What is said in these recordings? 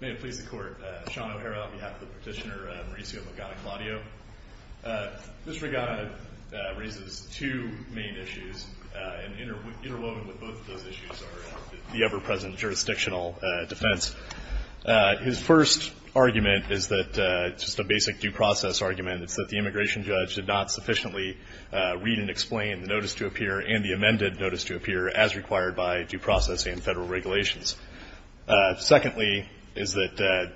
May it please the Court, Sean O'Hara on behalf of the petitioner, Mauricio Magana Claudio. Mr. Magana raises two main issues, and interwoven with both of those issues are the ever-present jurisdictional defense. His first argument is just a basic due process argument. It's that the immigration judge did not sufficiently read and explain the notice to appear and the amended notice to appear as required by due process and federal regulations. Secondly, is that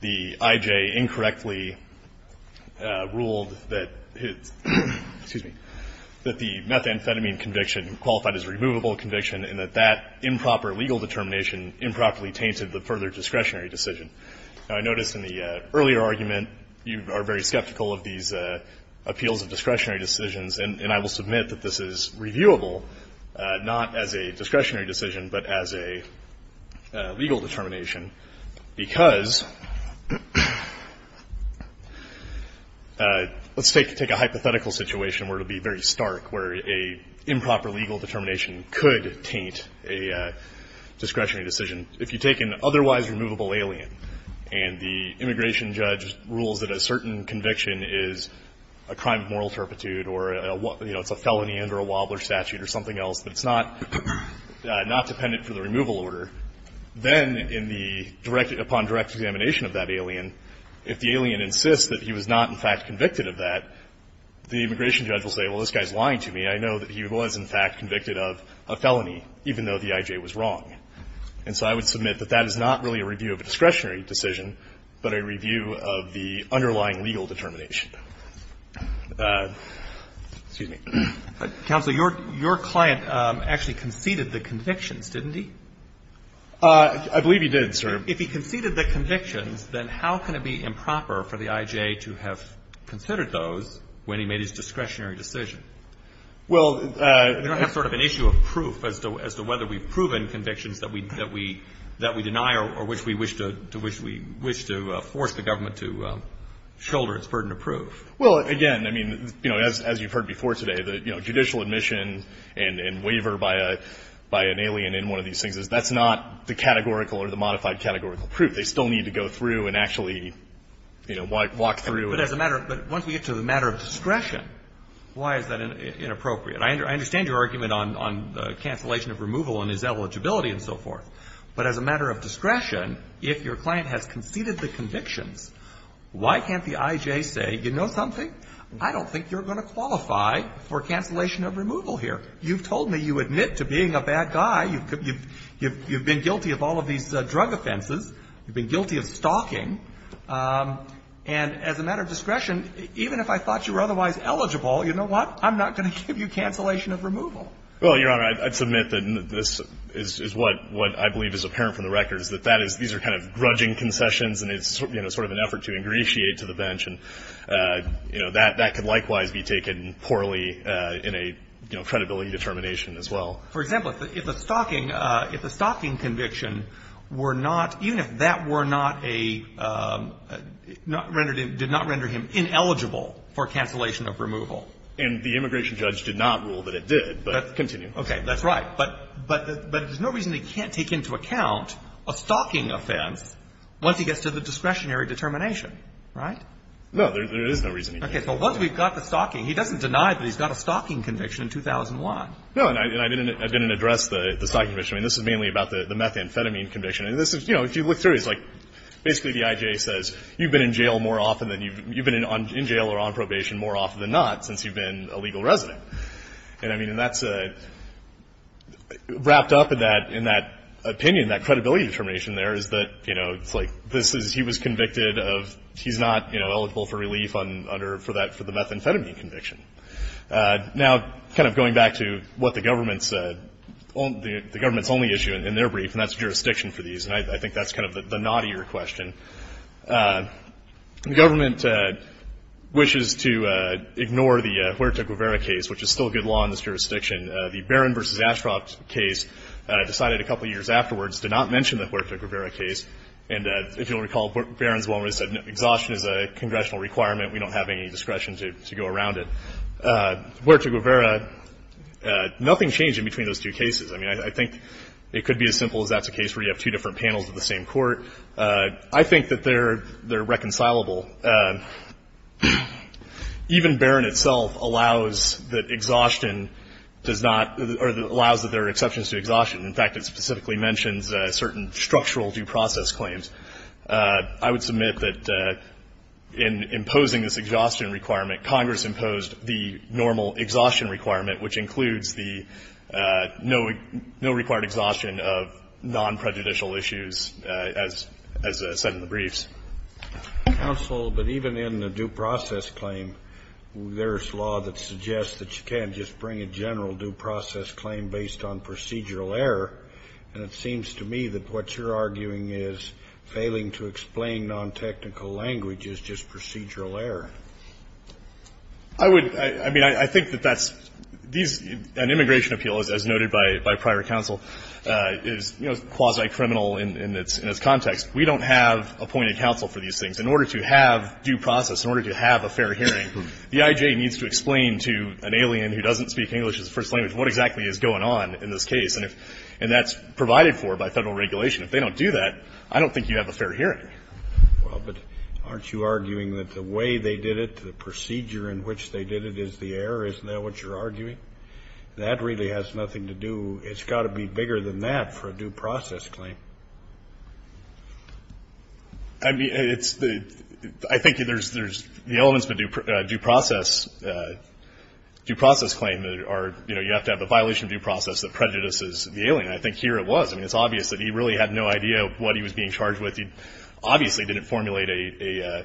the I.J. incorrectly ruled that the methamphetamine conviction qualified as a removable conviction and that that improper legal determination improperly tainted the further discretionary decision. I noticed in the earlier argument you are very skeptical of these appeals of discretionary decisions, and I will submit that this is reviewable, not as a discretionary decision, but as a legal determination. Because let's take a hypothetical situation where it would be very stark, where an improper legal determination could taint a discretionary decision. If you take an otherwise removable alien and the immigration judge rules that a certain conviction is a crime of moral turpitude or, you know, it's a felony under a Wobbler statute or something else, but it's not dependent for the removal order, then in the direct upon direct examination of that alien, if the alien insists that he was not in fact convicted of that, the immigration judge will say, well, this guy is lying to me. I know that he was in fact convicted of a felony, even though the I.J. was wrong. And so I would submit that that is not really a review of a discretionary decision, but a review of the underlying legal determination. Excuse me. Roberts. Counsel, your client actually conceded the convictions, didn't he? I believe he did, sir. If he conceded the convictions, then how can it be improper for the I.J. to have considered those when he made his discretionary decision? Well, we don't have sort of an issue of proof as to whether we've proven convictions that we deny or which we wish to force the government to shoulder as burden of proof. Well, again, I mean, you know, as you've heard before today, the, you know, judicial admission and waiver by an alien in one of these things, that's not the categorical or the modified categorical proof. They still need to go through and actually, you know, walk through. But as a matter of – but once we get to the matter of discretion, why is that inappropriate? I understand your argument on the cancellation of removal and his eligibility and so forth. But as a matter of discretion, if your client has conceded the convictions, why can't the I.J. say, you know something? I don't think you're going to qualify for cancellation of removal here. You've told me you admit to being a bad guy. You've been guilty of all of these drug offenses. You've been guilty of stalking. And as a matter of discretion, even if I thought you were otherwise eligible, you know what? I'm not going to give you cancellation of removal. Well, Your Honor, I'd submit that this is what I believe is apparent from the record, is that that is – these are kind of grudging concessions and it's, you know, sort of an effort to ingratiate to the bench. And, you know, that could likewise be taken poorly in a, you know, credibility determination as well. For example, if a stalking – if a stalking conviction were not – even if that were not a – did not render him ineligible for cancellation of removal. And the immigration judge did not rule that it did. But continue. Okay. That's right. But there's no reason they can't take into account a stalking offense once he gets to the discretionary determination, right? No. There is no reason he can't. Okay. So once we've got the stalking, he doesn't deny that he's got a stalking conviction in 2001. No. And I didn't address the stalking conviction. I mean, this is mainly about the methamphetamine conviction. And this is – you know, if you look through, it's like basically the IJ says you've been in jail more often than you've – you've been in jail or on probation more often than not since you've been a legal resident. And, I mean, that's a – wrapped up in that opinion, that credibility determination there is that, you know, it's like this is – he was convicted of – he's not, you know, eligible for relief under – for that – for the methamphetamine conviction. Now, kind of going back to what the government said, the government's only issue in their brief, and that's jurisdiction for these, and I think that's kind of the naughtier question. The government wishes to ignore the Huerta-Guevara case, which is still a good law in this jurisdiction. The Barron v. Ashcroft case decided a couple years afterwards to not mention the Huerta-Guevara case. And if you'll recall, Barron's woman said exhaustion is a congressional requirement. We don't have any discretion to go around it. Huerta-Guevara, nothing changed in between those two cases. I mean, I think it could be as simple as that's a case where you have two different panels of the same court. I think that they're – they're reconcilable. Even Barron itself allows that exhaustion does not – or allows that there are exceptions to exhaustion. In fact, it specifically mentions certain structural due process claims. I would submit that in imposing this exhaustion requirement, Congress imposed the normal exhaustion requirement, which includes the no – no required exhaustion of non-prejudicial issues as – as said in the briefs. Kennedy. Counsel, but even in the due process claim, there's law that suggests that you can't just bring a general due process claim based on procedural error. And it seems to me that what you're arguing is failing to explain non-technical language is just procedural error. I would – I mean, I think that that's – these – an immigration appeal, as noted by – by prior counsel, is, you know, quasi-criminal in its – in its context. We don't have appointed counsel for these things. In order to have due process, in order to have a fair hearing, the I.J. needs to explain to an alien who doesn't speak English as a first language what exactly is going on in this case. And if – and that's provided for by Federal regulation. If they don't do that, I don't think you have a fair hearing. Well, but aren't you arguing that the way they did it, the procedure in which they did it is the error? Isn't that what you're arguing? That really has nothing to do – it's got to be bigger than that for a due process claim. I mean, it's – I think there's – the elements of a due process claim are, you know, you have to have a violation of due process that prejudices the alien. I think here it was. I mean, it's obvious that he really had no idea what he was being charged with. He obviously didn't formulate a,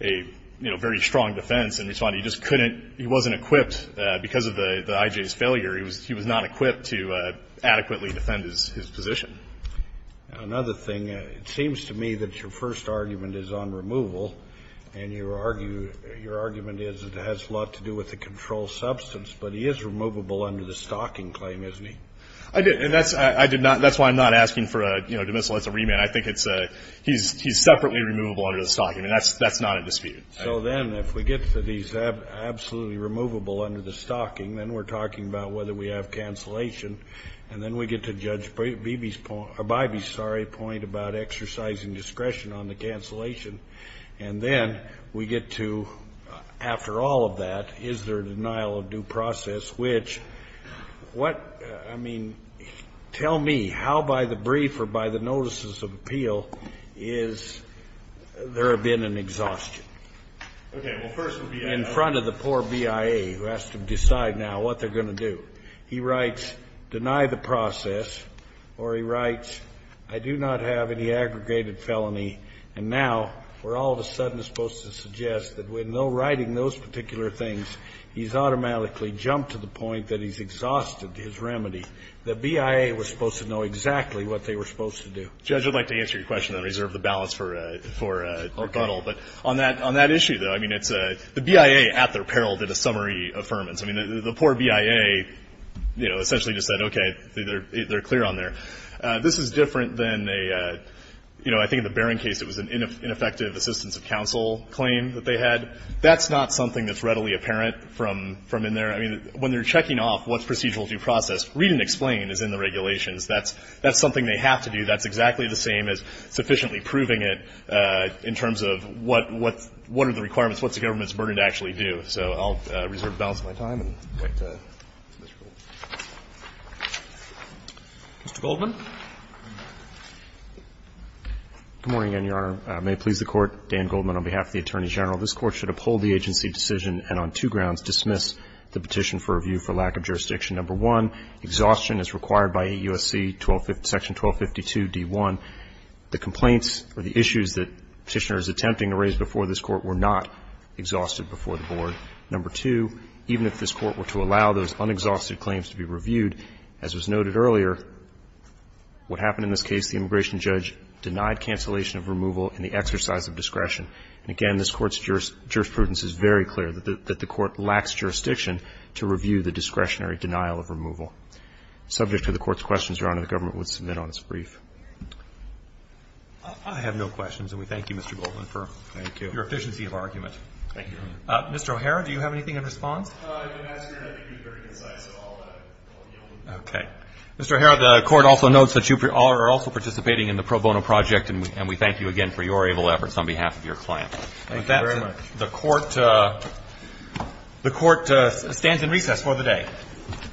you know, very strong defense in response. He just couldn't – he wasn't equipped because of the I.J.'s failure. He was not equipped to adequately defend his position. Now, another thing, it seems to me that your first argument is on removal, and your argument is it has a lot to do with the controlled substance. But he is removable under the stalking claim, isn't he? I did. And that's – I did not – that's why I'm not asking for a, you know, demisal. It's a remand. I think it's a – he's separately removable under the stalking. I mean, that's not a dispute. So then if we get to these absolutely removable under the stalking, then we're talking about whether we have cancellation. And then we get to Judge Beebe's point – or Beebe's, sorry, point about exercising discretion on the cancellation. And then we get to, after all of that, is there a denial of due process, which what – I mean, tell me how by the brief or by the notices of appeal is there been an exhaustion? Okay. Well, first, the BIA. In front of the poor BIA, who has to decide now what they're going to do. He writes, deny the process, or he writes, I do not have any aggregated felony. And now we're all of a sudden supposed to suggest that with no writing those particular things, he's automatically jumped to the point that he's exhausted his remedy. The BIA was supposed to know exactly what they were supposed to do. Judge, I'd like to answer your question and reserve the balance for a rebuttal. But on that issue, though, I mean, it's – the BIA at their peril did a summary affirmance. I mean, the poor BIA, you know, essentially just said, okay, they're clear on there. This is different than a – you know, I think in the Barron case it was an ineffective assistance of counsel claim that they had. That's not something that's readily apparent from in there. I mean, when they're checking off what's procedural due process, read and explain is in the regulations. That's something they have to do. That's exactly the same as sufficiently proving it in terms of what are the requirements, what's the government's burden to actually do. So I'll reserve the balance of my time. Mr. Goldman. Good morning, Your Honor. May it please the Court, Dan Goldman on behalf of the Attorney General. This Court should uphold the agency decision and on two grounds dismiss the petition for review for lack of jurisdiction. Number one, exhaustion is required by AUSC section 1252d1. The complaints or the issues that Petitioner is attempting to raise before this Court were not exhausted before the Board. Number two, even if this Court were to allow those unexhausted claims to be reviewed, as was noted earlier, what happened in this case, the immigration judge denied cancellation of removal in the exercise of discretion. And again, this Court's jurisprudence is very clear, that the Court lacks jurisdiction to review the discretionary denial of removal. Subject to the Court's questions, Your Honor, the government would submit on its brief. I have no questions, and we thank you, Mr. Goldman, for your efficiency of argument. Thank you. Mr. O'Hara, do you have anything in response? Your Honor, I think he was very concise in all the elements. Okay. Mr. O'Hara, the Court also notes that you are also participating in the pro bono project, and we thank you again for your able efforts on behalf of your client. Thank you very much. The Court stands in recess for the day.